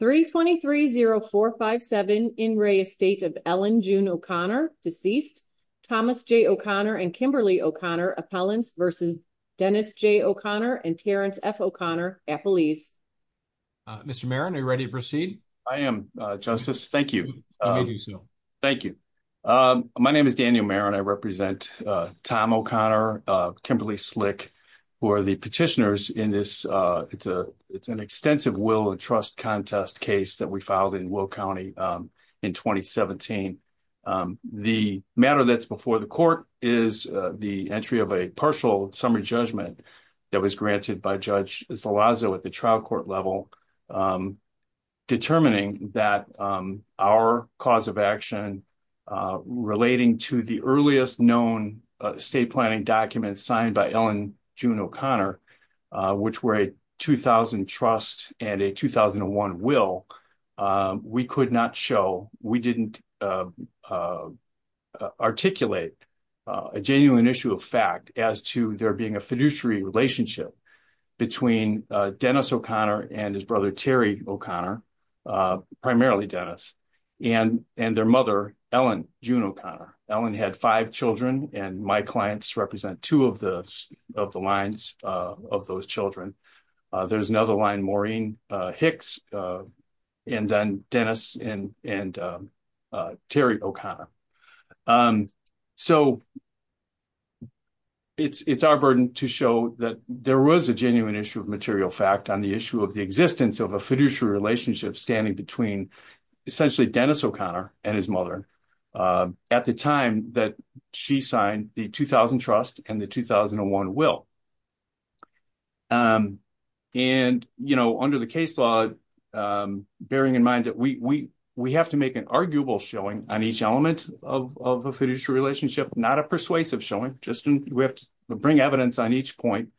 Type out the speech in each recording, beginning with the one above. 3230457 in re estate of Ellen June O'Connor, deceased. Thomas J. O'Connor and Kimberly O'Connor appellants versus Dennis J. O'Connor and Terrence F. O'Connor appellees. Mr. Marin, are you ready to proceed? I am, Justice. Thank you. Thank you. My name is Daniel Marin. I represent Tom O'Connor, Kimberly Slick, who are the petitioners in this. It's an extensive will and trust contest case that we filed in Will County in 2017. The matter that's before the court is the entry of a partial summary judgment that was granted by Judge Zalazo at the trial court level, determining that our cause of action relating to the earliest known estate planning documents signed by Ellen June O'Connor, which were a 2000 trust and a 2001 will, we could not show, we didn't articulate a genuine issue of fact as to there being a fiduciary relationship between Dennis O'Connor and his brother Terry O'Connor, primarily Dennis, and their mother, Ellen June O'Connor. Ellen had five children, and my clients represent two of the lines of those children. There's another line, Maureen Hicks, and then Dennis and Terry O'Connor. So it's our burden to show that there was a genuine issue of material fact on the issue of the existence of a fiduciary relationship standing between, essentially, Dennis O'Connor and his mother at the time that she signed the 2000 trust and the 2001 will. Under the case law, bearing in mind that we have to make an arguable showing on each element of a fiduciary relationship, not a persuasive showing, just we have to bring evidence on each point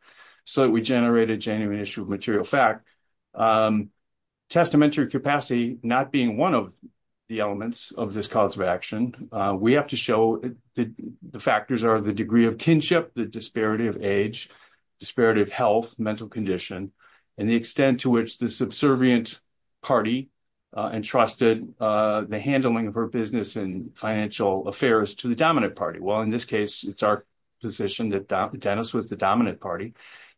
so that we generate a genuine issue of material fact. Testamentary capacity not being one of the elements of this cause of action, we have to show that the factors are the degree of kinship, the disparity of age, disparity of health, mental condition, and the extent to which the subservient party entrusted the handling of her business and financial affairs to the dominant party,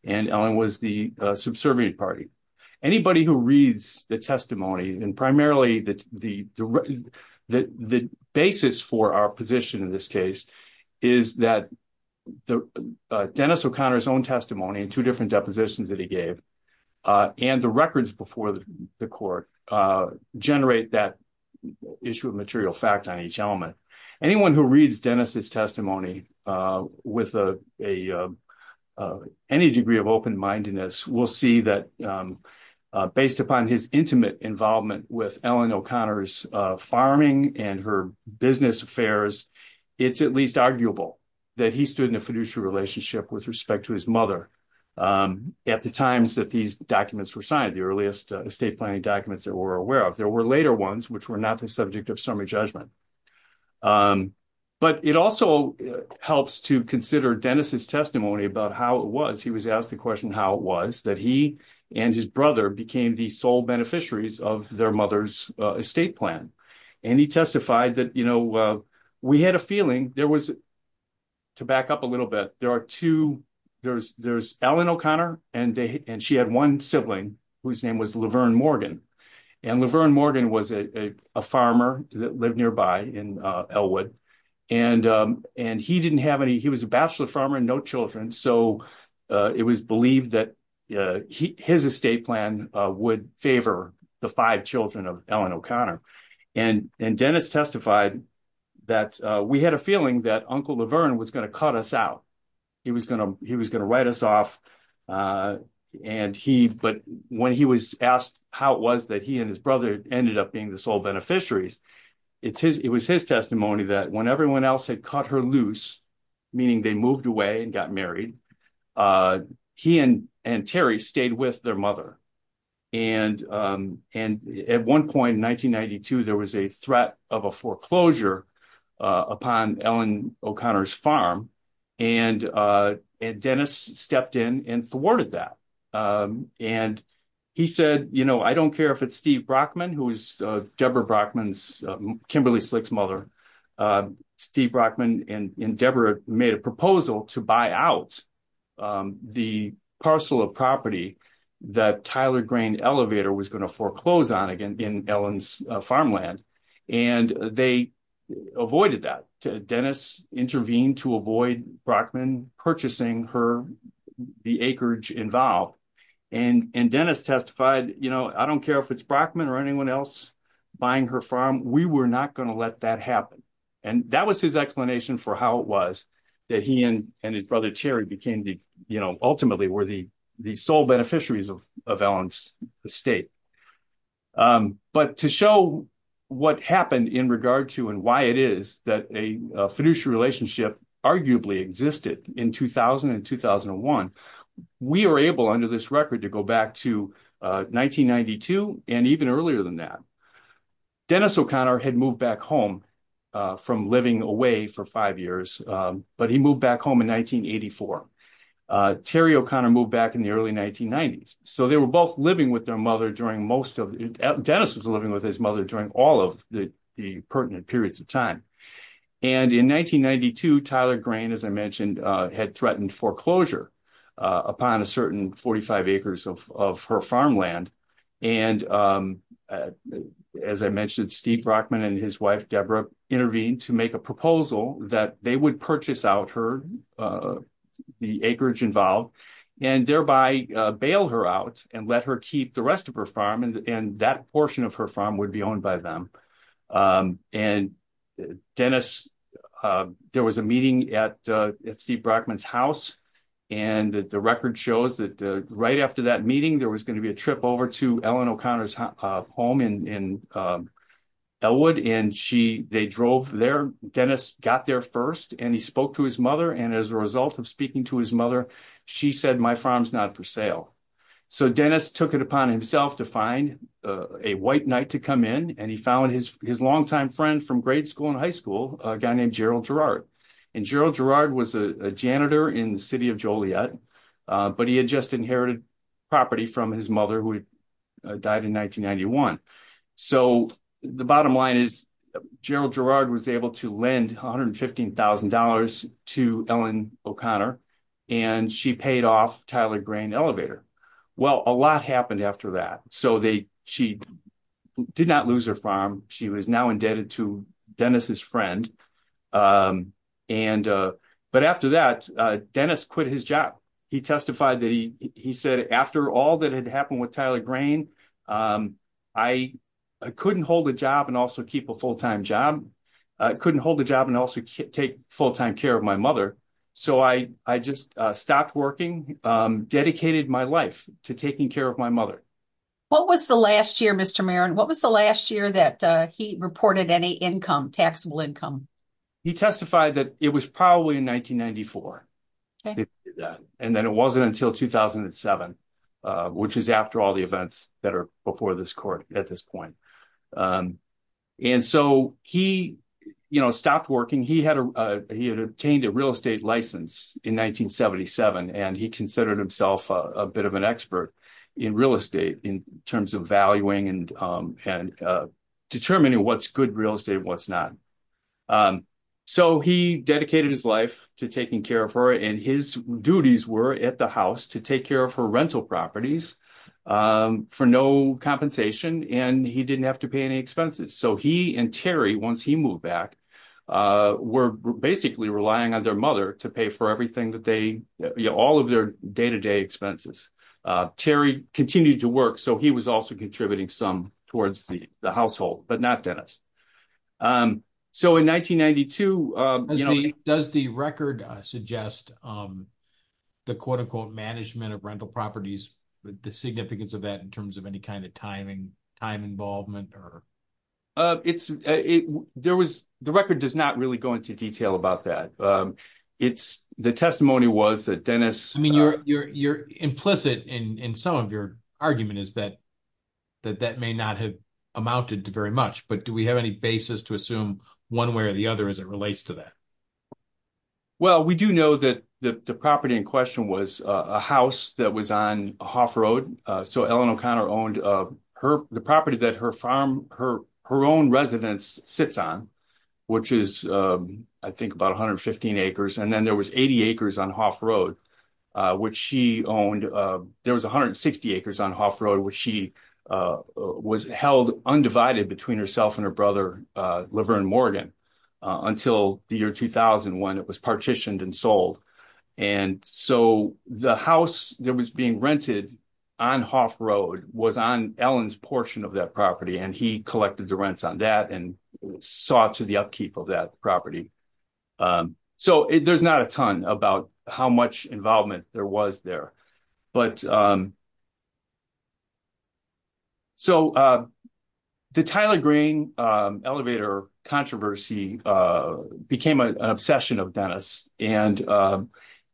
and Ellen was the subservient party. Anybody who reads the testimony, and primarily the basis for our position in this case, is that Dennis O'Connor's own testimony and two different depositions that he gave and the records before the court generate that issue of material fact on each element. Anyone who reads Dennis's testimony with any degree of open-mindedness will see that based upon his intimate involvement with Ellen O'Connor's farming and her business affairs, it's at least arguable that he stood in a fiduciary relationship with respect to his mother at the times that these documents were signed, the earliest estate planning documents that we're aware of. There were later ones which were not the subject of summary judgment, but it also helps to consider Dennis's testimony about how it was he was asked the question how it was that he and his brother became the sole beneficiaries of their mother's estate plan, and he testified that you know we had a feeling there was, to back up a little bit, there are two, there's Ellen O'Connor and she had one sibling whose name was Laverne Morgan, and Laverne Morgan was a farmer that lived nearby in Elwood, and he didn't have any, he was a bachelor farmer and no children, so it was believed that his estate plan would favor the five children of Ellen O'Connor, and Dennis testified that we had a feeling that Uncle Laverne was going to cut us out, he was going to, he was going to write us off, and he, but when he was asked how it was that he and his brother ended up being the sole beneficiaries, it's his, it was his testimony that when everyone else had cut her loose, meaning they moved away and got married, he and Terry stayed with their mother, and at one point in 1992 there was a threat of a foreclosure upon Ellen O'Connor's farm, and Dennis stepped in and thwarted that, and he said, you know, I don't care if it's Steve Brockman, who was Deborah Brockman's, Kimberly Slick's mother, Steve Brockman and Deborah made a proposal to buy out the parcel of property that Tyler Grain Elevator was going to foreclose on in Ellen's farmland, and they avoided that. Dennis intervened to avoid Brockman purchasing her, the acreage involved, and Dennis testified, you know, I don't care if it's Brockman or anyone else buying her farm, we were not going to let that happen, and that was his explanation for how it was that he and his brother Terry became the, you know, ultimately were the sole beneficiaries of Ellen's estate, but to show what happened in regard to and why it is that a fiduciary relationship arguably existed in 2000 and 2001, we are able under this record to go back to 1992 and even earlier than that. Dennis O'Connor had moved back home from living away for five years, but he moved back home in 1984. Terry O'Connor moved back in the early 1990s, so they were both living with their mother during most of, Dennis was living with his mother during all of the pertinent periods of time, and in 1992, Tyler Grain, as I mentioned, had threatened foreclosure upon a certain 45 acres of her farmland, and as I mentioned, Steve Brockman and his wife Deborah intervened to make a proposal that they would purchase out her, the acreage involved, and thereby bail her out and let her keep the rest of her farm, and that portion of her farm would be owned by them, and Dennis, there was a meeting at Steve Brockman's house, and the record shows that right after that meeting, there was going to be a trip over to Ellen O'Connor's home in Elwood, and she, they drove there, Dennis got there first, and he spoke to his mother, and as a result of speaking to his mother, she said, my farm's not for sale, so Dennis took it upon himself to find a white knight to come in, and he found his longtime friend from grade school and high school, a guy named Gerald Gerard, and Gerald Gerard was a janitor in the city of Joliet, but he had just inherited property from his mother, who died in 1991, so the bottom line is, Gerald Gerard was able to lend $115,000 to Ellen O'Connor, and she paid off Tyler Grain Elevator. Well, a lot happened after that, so they, she did not lose her farm, she was now indebted to Dennis's friend, and, but after that, Dennis quit his job. He testified that he, he said, after all that had Tyler Grain, I couldn't hold a job and also keep a full-time job, I couldn't hold a job and also take full-time care of my mother, so I, I just stopped working, dedicated my life to taking care of my mother. What was the last year, Mr. Marin, what was the last year that he reported any income, taxable income? He testified that it was probably in 1994, and then it wasn't until 2007, which is after all the events that are before this court at this point, and so he, you know, stopped working. He had, he had obtained a real estate license in 1977, and he considered himself a bit of an expert in real estate in terms of valuing and, and determining what's good real estate and what's not, so he dedicated his life to taking care of her, and his duties were at the properties for no compensation, and he didn't have to pay any expenses, so he and Terry, once he moved back, were basically relying on their mother to pay for everything that they, you know, all of their day-to-day expenses. Terry continued to work, so he was also contributing some towards the household, but not Dennis, so in 1992, you know, does the record suggest the quote-unquote management of rental properties, the significance of that in terms of any kind of timing, time involvement, or? It's, it, there was, the record does not really go into detail about that. It's, the testimony was that Dennis... I mean, you're, you're, you're implicit in, in some of your argument is that, that that may not have amounted to very much, but do we have any basis to assume one way or the other as it relates to that? Well, we do know that the, the property in question was a house that was on Hough Road, so Ellen O'Connor owned her, the property that her farm, her, her own residence sits on, which is, I think, about 115 acres, and then there was 80 acres on Hough Road, which she owned. There was 160 acres on Hough Road, which she was held undivided between herself and her brother, Laverne Morgan, until the year 2000 when it was partitioned and sold, and so the house that was being rented on Hough Road was on Ellen's portion of that property, and he collected the rents on that and sought to the upkeep of that property, so there's not a ton about how much involvement there was there, but... So, the Tyler Green elevator controversy became an obsession of Dennis, and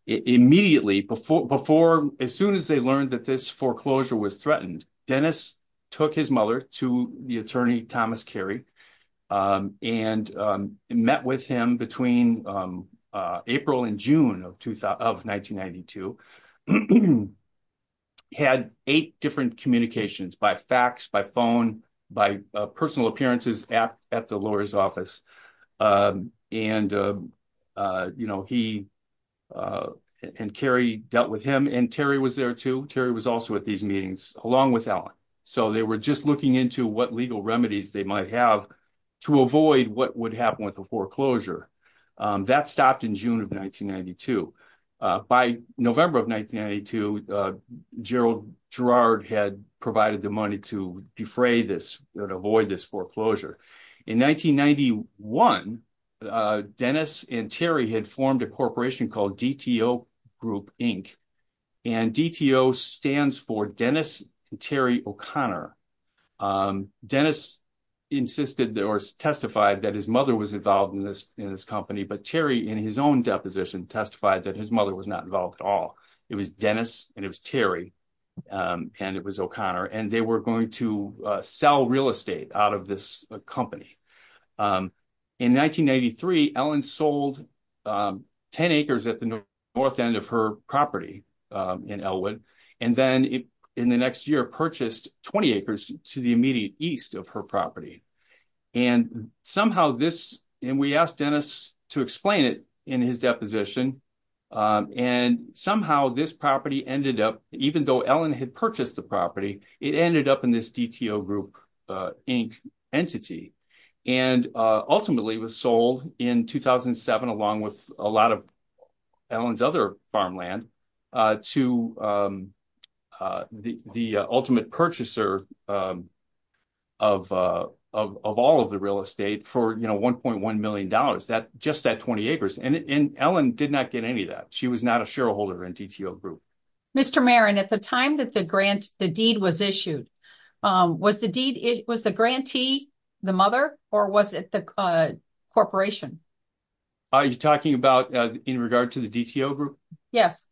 immediately before, before, as soon as they learned that this foreclosure was threatened, Dennis took his mother to the attorney, Thomas Carey, and met with him between April and June of 1992, had eight different communications by fax, by phone, by personal appearances at the lawyer's office, and, you know, he and Carey dealt with him, and Terry was there too. Terry was also at these meetings along with Ellen, so they were just looking into what legal remedies they might have to avoid what would happen with the foreclosure. That stopped in June of 1992. By November of 1992, Gerald Girard had provided the money to defray this, or to avoid this foreclosure. In 1991, Dennis and Terry had formed a corporation called DTO Group Inc., and DTO stands for Dennis and Terry O'Connor. Dennis insisted, or testified, that his mother was involved in this, in this company, but Terry, in his own deposition, testified that his mother was not involved at all. It was Dennis, and it was Terry, and it was O'Connor, and they were going to sell real estate out of this company. In 1993, Ellen sold 10 acres at the north end of her property in Elwood, and then, in the next year, purchased 20 acres to the immediate east of her property, and somehow this, and we asked Dennis to explain it in his deposition, and somehow this property ended up, even though Ellen had purchased the property, it ended up in this DTO Group Inc. entity, and ultimately was sold in 2007, along with a lot of Ellen's other farmland, to the ultimate purchaser of all of the real estate for, you know, $1.1 million, just that 20 acres, and Ellen did not get any of that. She was not a shareholder in DTO Group. Mr. Marin, at the time that the grant, the deed was issued, was the deed, it was the grantee, the mother, or was it the corporation? Are you talking about in regard to the DTO Group? Yes.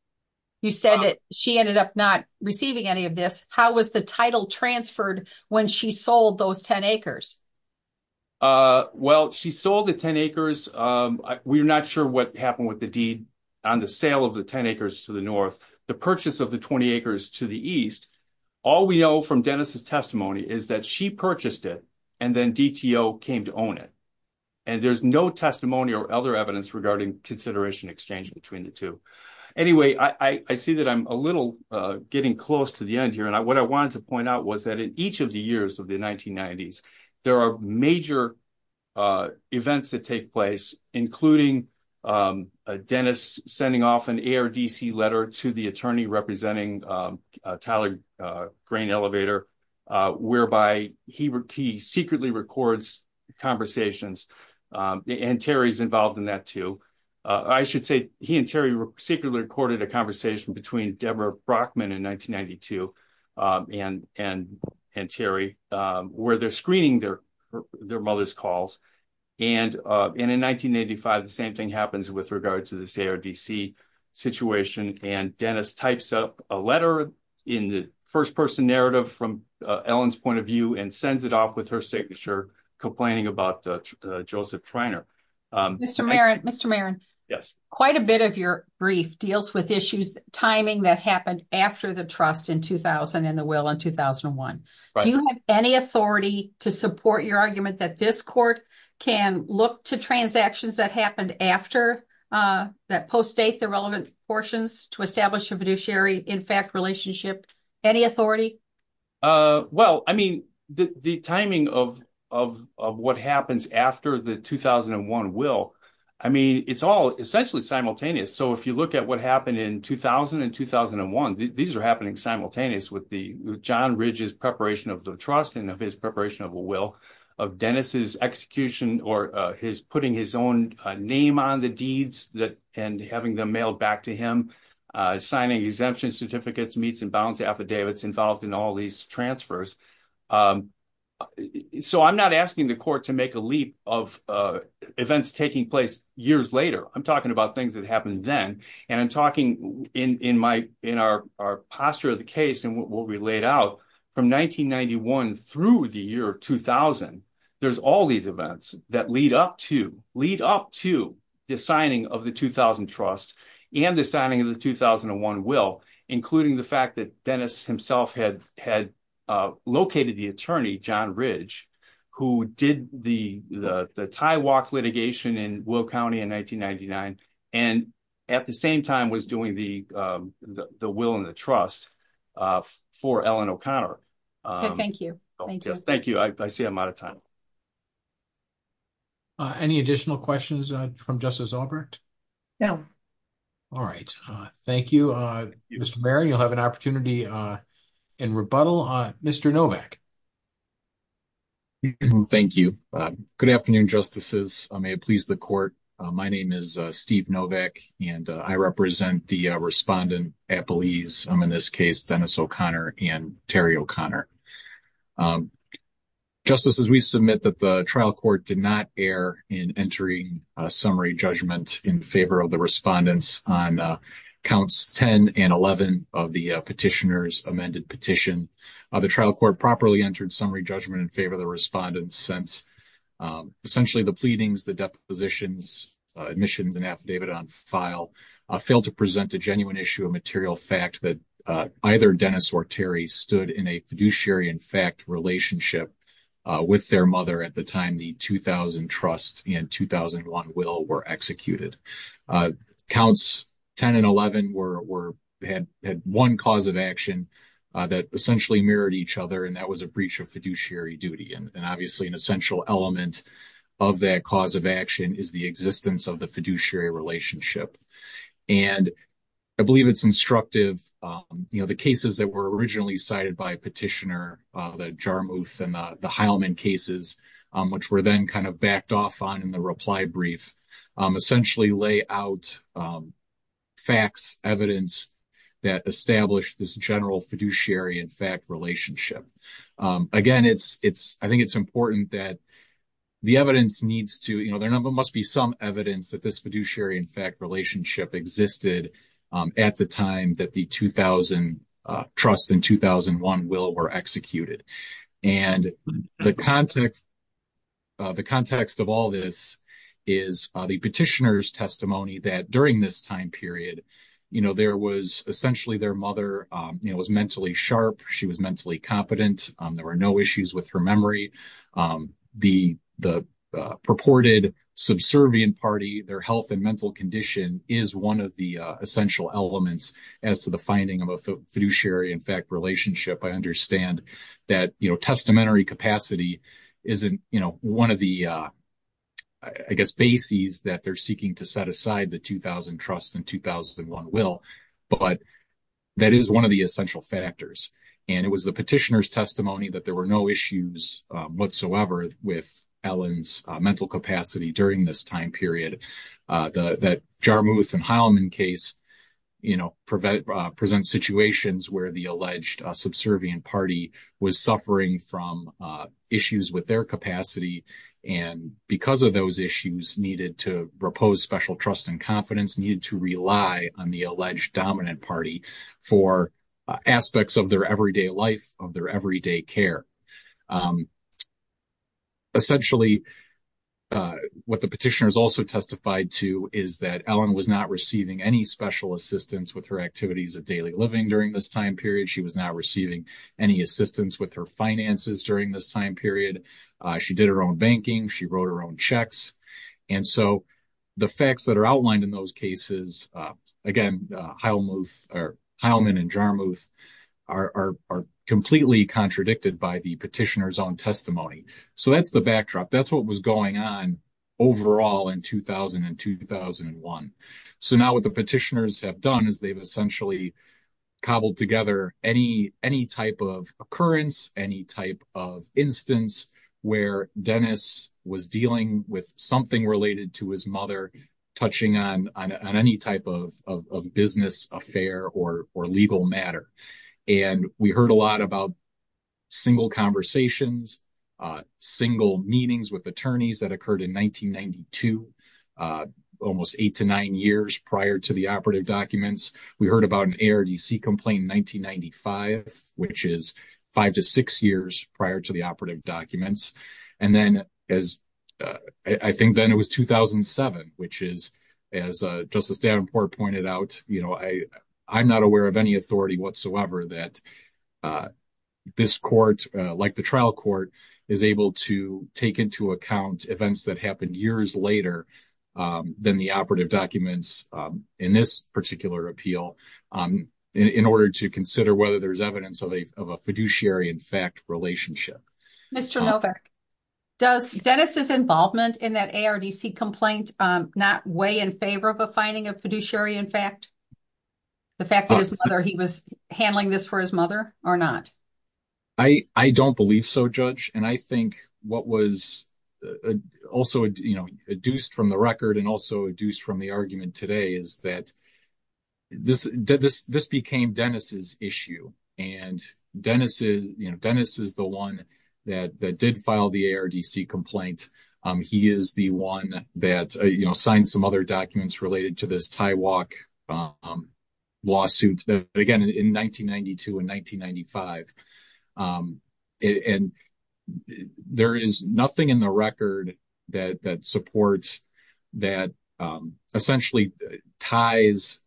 You said that she ended up not receiving any of this. How was the title transferred when she sold those 10 acres? Well, she sold the 10 acres. We're not sure what happened with the on the sale of the 10 acres to the north, the purchase of the 20 acres to the east. All we know from Dennis's testimony is that she purchased it, and then DTO came to own it, and there's no testimony or other evidence regarding consideration exchange between the two. Anyway, I see that I'm a little getting close to the end here, and what I wanted to point out was in each of the years of the 1990s, there are major events that take place, including Dennis sending off an ARDC letter to the attorney representing Tyler Grain Elevator, whereby he secretly records conversations, and Terry's involved in that too. I should say he and Terry secretly recorded a conversation between Deborah Brockman in 1992 and Terry, where they're screening their mother's calls. In 1985, the same thing happens with regard to this ARDC situation, and Dennis types up a letter in the first-person narrative from Ellen's point of view and sends it off with her signature, complaining about Joseph Treiner. Mr. Maron, quite a bit of your brief deals with issues, timing that happened after the trust in 2000 and the will in 2001. Do you have any authority to support your argument that this court can look to transactions that happened after, that postdate the relevant portions to establish a fiduciary, in fact, relationship? Any authority? Well, I mean, the timing of what happens after the 2001 will, I mean, it's all essentially simultaneous. So, if you look at what happened in 2000 and 2001, these are happening simultaneous with John Ridge's preparation of the trust and of his preparation of a will, of Dennis' execution or his putting his own name on the deeds and having them mailed back to him, signing exemption certificates, meets and bounds affidavits involved in all these transfers. So, I'm not asking the court to make a leap of events taking place years later. I'm talking about things that happened then, and I'm talking in our posture of the case and what we laid out from 1991 through the year 2000. There's all these events that lead up to the signing of the 2000 trust and the signing of the 2001 will, including the fact that Dennis himself had located the attorney, John Ridge, who did the tie walk litigation in Will County in 1999, and at the same time was doing the will and the trust for Ellen O'Connor. Thank you. Thank you. I see I'm out of time. Any additional questions from Justice Albrecht? No. All right. Thank you, Mr. Mayor. You'll have an opportunity in rebuttal. Mr. Novak. Thank you. Good afternoon, Justices. May it please the court. My name is Steve Novak, and I represent the respondent at Belize, in this case Dennis O'Connor and Terry O'Connor. Justices, we submit that the trial court did not err in entering a summary judgment in favor of the respondents on counts 10 and 11 of the petitioner's amended petition. The trial court properly entered summary judgment in favor of the respondents since essentially the pleadings, the depositions, admissions, and affidavit on file failed to present a genuine issue of material fact that either Dennis or Terry stood in a fiduciary, in fact, relationship with their mother at the time the 2000 trust and 2001 will were executed. Counts 10 and 11 had one cause of action that essentially mirrored each other, and that was a breach of fiduciary duty. And obviously, an essential element of that cause of action is the existence of the fiduciary relationship. And I believe it's instructive, you know, the cases that were originally cited by petitioner, the Jarmuth and the Heilman cases, which were then kind of backed off on in the reply brief, essentially lay out facts, evidence that established this general fiduciary, in fact, relationship. Again, it's, I think it's important that the evidence needs to, you know, there must be some evidence that this fiduciary, in fact, relationship existed at the time that the 2000 trust and 2001 will were executed. And the context, the context of all this is the petitioner's testimony that during this time period, you know, there was essentially their mother, you know, was mentally sharp. She was mentally competent. There were no issues with her memory. The purported subservient party, their health and mental condition is one of the essential elements as to the finding of a fiduciary, in fact, relationship. I understand that, you know, testamentary capacity isn't, you know, one of the, I guess, bases that they're seeking to set aside the 2000 trust and 2001 will, but that is one of the essential factors. And it was the petitioner's testimony that there were no issues whatsoever with Ellen's mental capacity during this time period, that Jarmuth and Heilman case, you know, present situations where the alleged subservient party was suffering from issues with their capacity. And because of those issues needed to repose special trust and confidence, needed to rely on the alleged dominant party for aspects of their everyday life, of their everyday care. Essentially, what the petitioner has also testified to is that Ellen was not receiving any special assistance with her activities of daily living during this time period. She was not receiving any assistance with her finances during this time period. She did her own banking. She wrote her own checks. And so, the facts that are outlined in those cases, again, Heilman and Jarmuth are completely contradicted by the petitioner's own testimony. So, that's the backdrop. That's what was going on overall in 2000 and 2001. So, now what the petitioners have done is they've essentially cobbled together any type of occurrence, any type of instance where Dennis was dealing with something related to his mother touching on any type of business affair or legal matter. And we heard a lot about single conversations, single meetings with attorneys that occurred in 1992, almost eight to nine years prior to the operative documents. We heard about ARDC complaint in 1995, which is five to six years prior to the operative documents. And then, I think then it was 2007, which is, as Justice Davenport pointed out, I'm not aware of any authority whatsoever that this court, like the trial court, is able to take into account events that happened years later than the operative documents in this particular appeal in order to consider whether there's evidence of a fiduciary in fact relationship. Mr. Novak, does Dennis's involvement in that ARDC complaint not weigh in favor of a finding of fiduciary in fact? The fact that his mother, he was handling this for his mother or not? I don't believe so, Judge. And I think what was also, you know, adduced from the record and also adduced from the argument today is that this became Dennis's issue. And Dennis is, you know, Dennis is the one that did file the ARDC complaint. He is the one that, you know, signed some other documents related to this tie walk lawsuit, again, in 1992 and 1995. And there is nothing in the record that supports, that essentially ties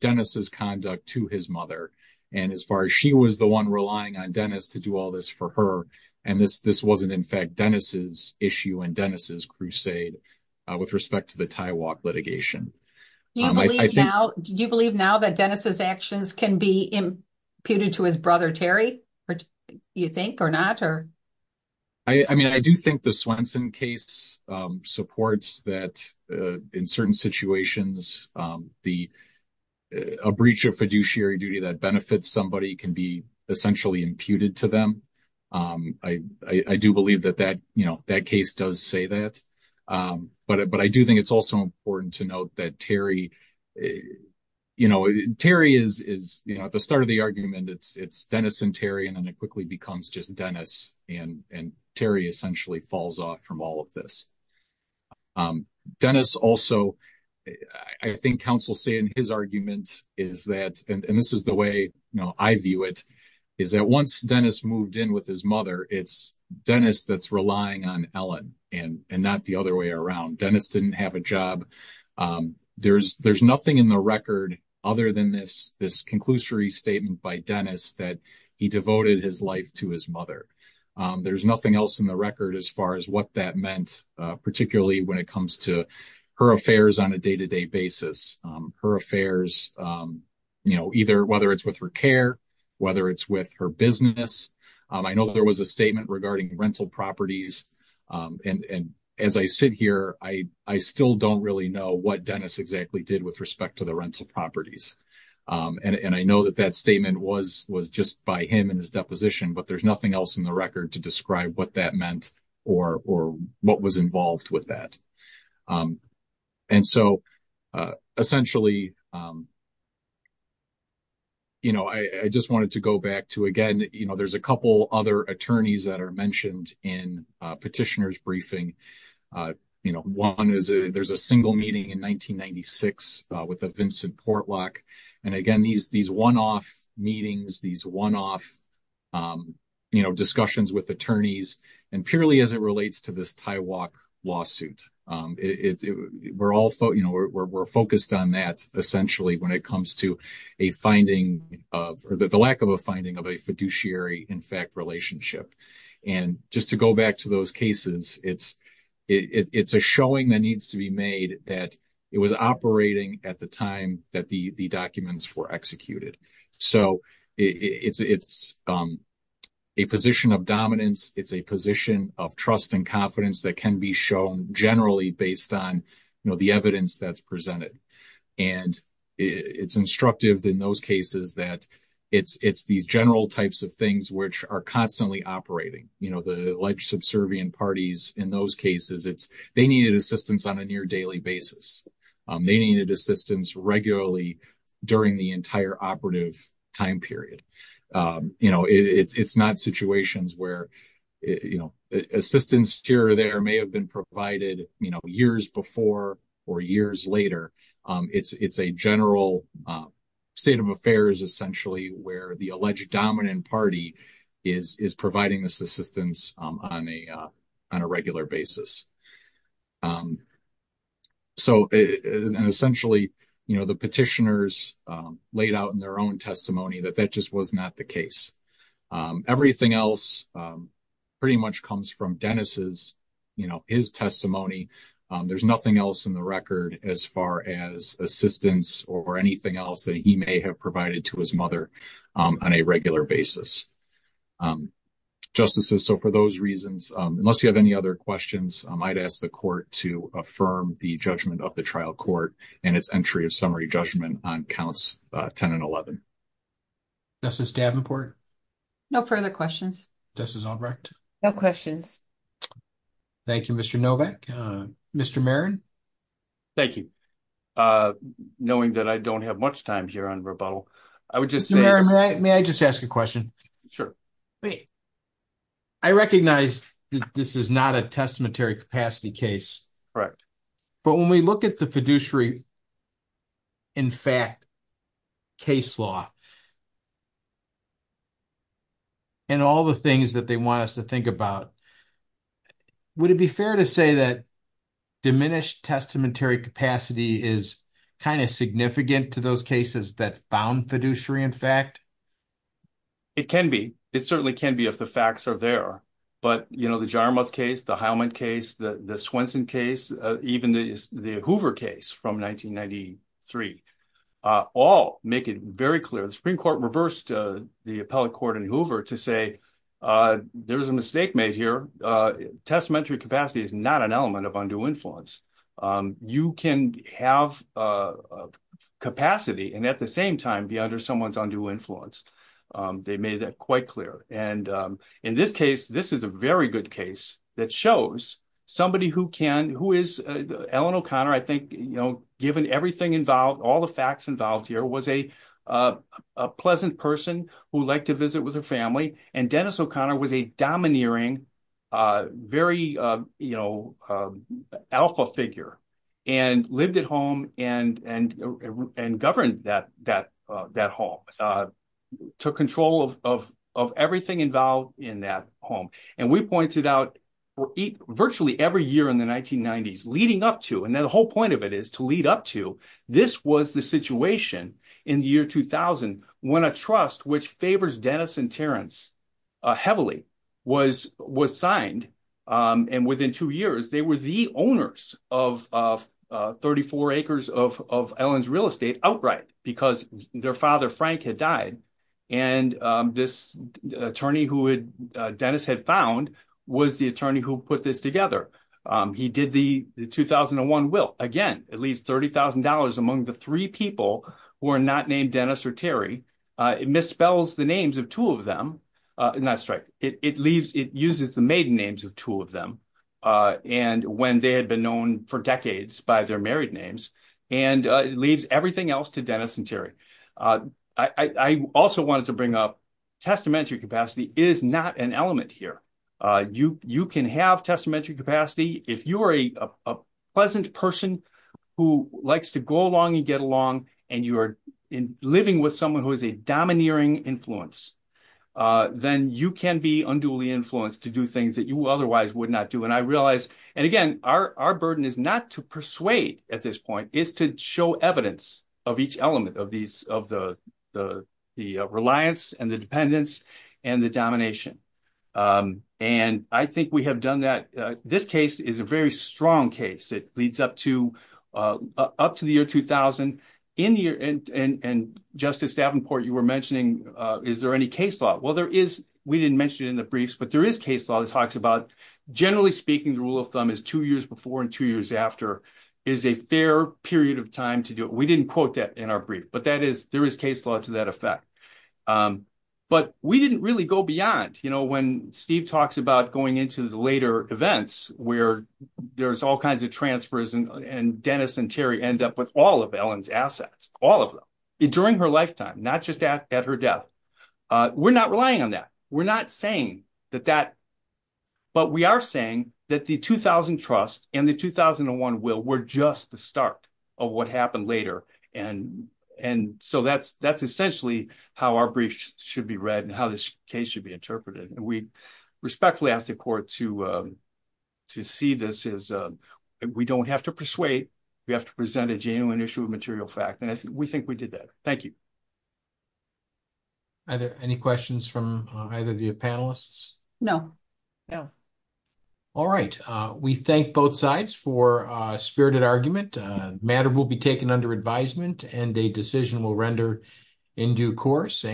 Dennis's conduct to his mother. And as far as she was the one relying on Dennis to do all this for her, and this wasn't in fact Dennis's issue and Dennis's crusade with respect to the tie walk litigation. Do you believe now that Dennis's actions can be imputed to his brother, Terry, you think or not? I mean, I do think the Swenson case supports that in certain situations, a breach of fiduciary duty that benefits somebody can be essentially imputed to them. I do believe that that, you know, that case does say that. But I do think it's also important to note that Terry, you know, Terry is, you know, at the start of the argument, it's Dennis and Terry, and then it quickly becomes just Dennis. And Terry essentially falls off from all of this. Dennis also, I think counsel say in his argument is that, and this is the way, you know, I view it, is that once Dennis moved in with his mother, it's Dennis that's relying on Ellen and not the other way around. Dennis didn't have a job. There's nothing in the record other than this conclusory statement by Dennis that he devoted his life to his mother. There's nothing else in the record as far as what that meant, particularly when it comes to her affairs on a day-to-day basis, her affairs, you know, either whether it's with her care, whether it's with her business. I know there was a statement regarding rental properties. And as I sit here, I still don't really know what Dennis exactly did with respect to the rental properties. And I know that that statement was just by him and his deposition, but there's nothing else in the record to describe what that meant or what was involved with that. And so essentially, you know, I just wanted to go back to, again, you know, there's a couple other attorneys that are mentioned in petitioner's briefing. You know, one is, there's a single meeting in 1996 with the Vincent Portlock. And again, these one-off meetings, these one-off, you know, discussions with attorneys, and purely as it relates to this TIWOC lawsuit, we're all, you know, we're focused on that essentially when it comes to a finding of or the lack of a finding of a fiduciary in fact relationship. And just to go back to those cases, it's a showing that needs to be made that it was operating at the time that the documents were executed. So it's a position of dominance. It's a position of trust and confidence that can be shown generally based on, you know, the evidence that's presented. And it's instructive in those cases that it's these general types of things which are constantly operating. You know, the alleged subservient parties in those cases, it's they needed assistance on a near daily basis. They needed assistance regularly during the entire operative time period. You know, it's not situations where, you know, assistance here or there may have been provided, you know, years before or years later. It's a general state of affairs essentially where the alleged dominant party is providing this assistance on a regular basis. So, and essentially, you know, the petitioners laid out in their own testimony that that just was not the case. Everything else pretty much comes from Dennis's, you know, his testimony. There's nothing else in the record as far as assistance or anything else that he may have provided to his mother on a regular basis. Justices, so for those reasons, unless you have any other questions, I might ask the court to affirm the judgment of the trial court and its of summary judgment on counts 10 and 11. Justice Davenport? No further questions. Justice Albrecht? No questions. Thank you, Mr. Novak. Mr. Marin? Thank you. Knowing that I don't have much time here on rebuttal, I would just say- May I just ask a question? Sure. I recognize that this is not a capacity case. Correct. But when we look at the fiduciary in fact case law and all the things that they want us to think about, would it be fair to say that diminished testamentary capacity is kind of significant to those cases that found fiduciary in fact? It can be. It certainly can be if the facts are there. But the Jaramuth case, the Heilman case, the Swenson case, even the Hoover case from 1993, all make it very clear. The Supreme Court reversed the appellate court in Hoover to say, there was a mistake made here. Testamentary capacity is not an element of undue influence. You can have capacity and at the same time be under someone's undue influence. They made that quite clear. And in this case, this is a very good case that shows somebody who can- who is- Ellen O'Connor, I think, given everything involved, all the facts involved here, was a pleasant person who liked to visit with her family. And Dennis O'Connor was a domineering, very, you know, alpha figure and lived at home and governed that home, took control of everything involved in that home. And we pointed out, virtually every year in the 1990s leading up to, and then the whole point of it is to lead up to, this was the situation in the year 2000 when a trust which favors Dennis and Terrence heavily was signed. And within two years, they were the owners of 34 acres of Ellen's real estate outright because their father, Frank, had died. And this attorney who Dennis had found was the attorney who put this together. He did the 2001 will, again, at least $30,000 among the three people who are not named Dennis or Terry. It misspells the names of two of them. And that's right. It leaves- it uses the maiden names of two of them. And when they had been known for decades by their married names, and it leaves everything else to Dennis and Terry. I also wanted to bring up testamentary capacity is not an element here. You can have testamentary capacity if you are a pleasant person who likes to go along and get along, and you are living with someone who is a domineering influence. Then you can be unduly influenced to do things that you otherwise would not do. And I realized, and again, our burden is not to persuade at this point, it's to show evidence of each element of the reliance and the dependence and the domination. And I think we have a very strong case. It leads up to the year 2000. And Justice Davenport, you were mentioning, is there any case law? Well, there is. We didn't mention it in the briefs, but there is case law that talks about, generally speaking, the rule of thumb is two years before and two years after is a fair period of time to do it. We didn't quote that in our brief, but there is case law to that effect. But we didn't really go beyond. When Steve talks about going into the later events, where there's all kinds of transfers and Dennis and Terry end up with all of Ellen's assets, all of them, during her lifetime, not just at her death. We're not relying on that. We're not saying that that, but we are saying that the 2000 trust and the 2001 will were just the start of what happened later. And so that's essentially how our brief should be read and how this case should be interpreted. And we respectfully ask the court to see this as we don't have to persuade. We have to present a genuine issue of material fact. And we think we did that. Thank you. Are there any questions from either the panelists? No. No. All right. We thank both sides for a spirited argument. Matter will be taken under advisement and a decision will render in due course.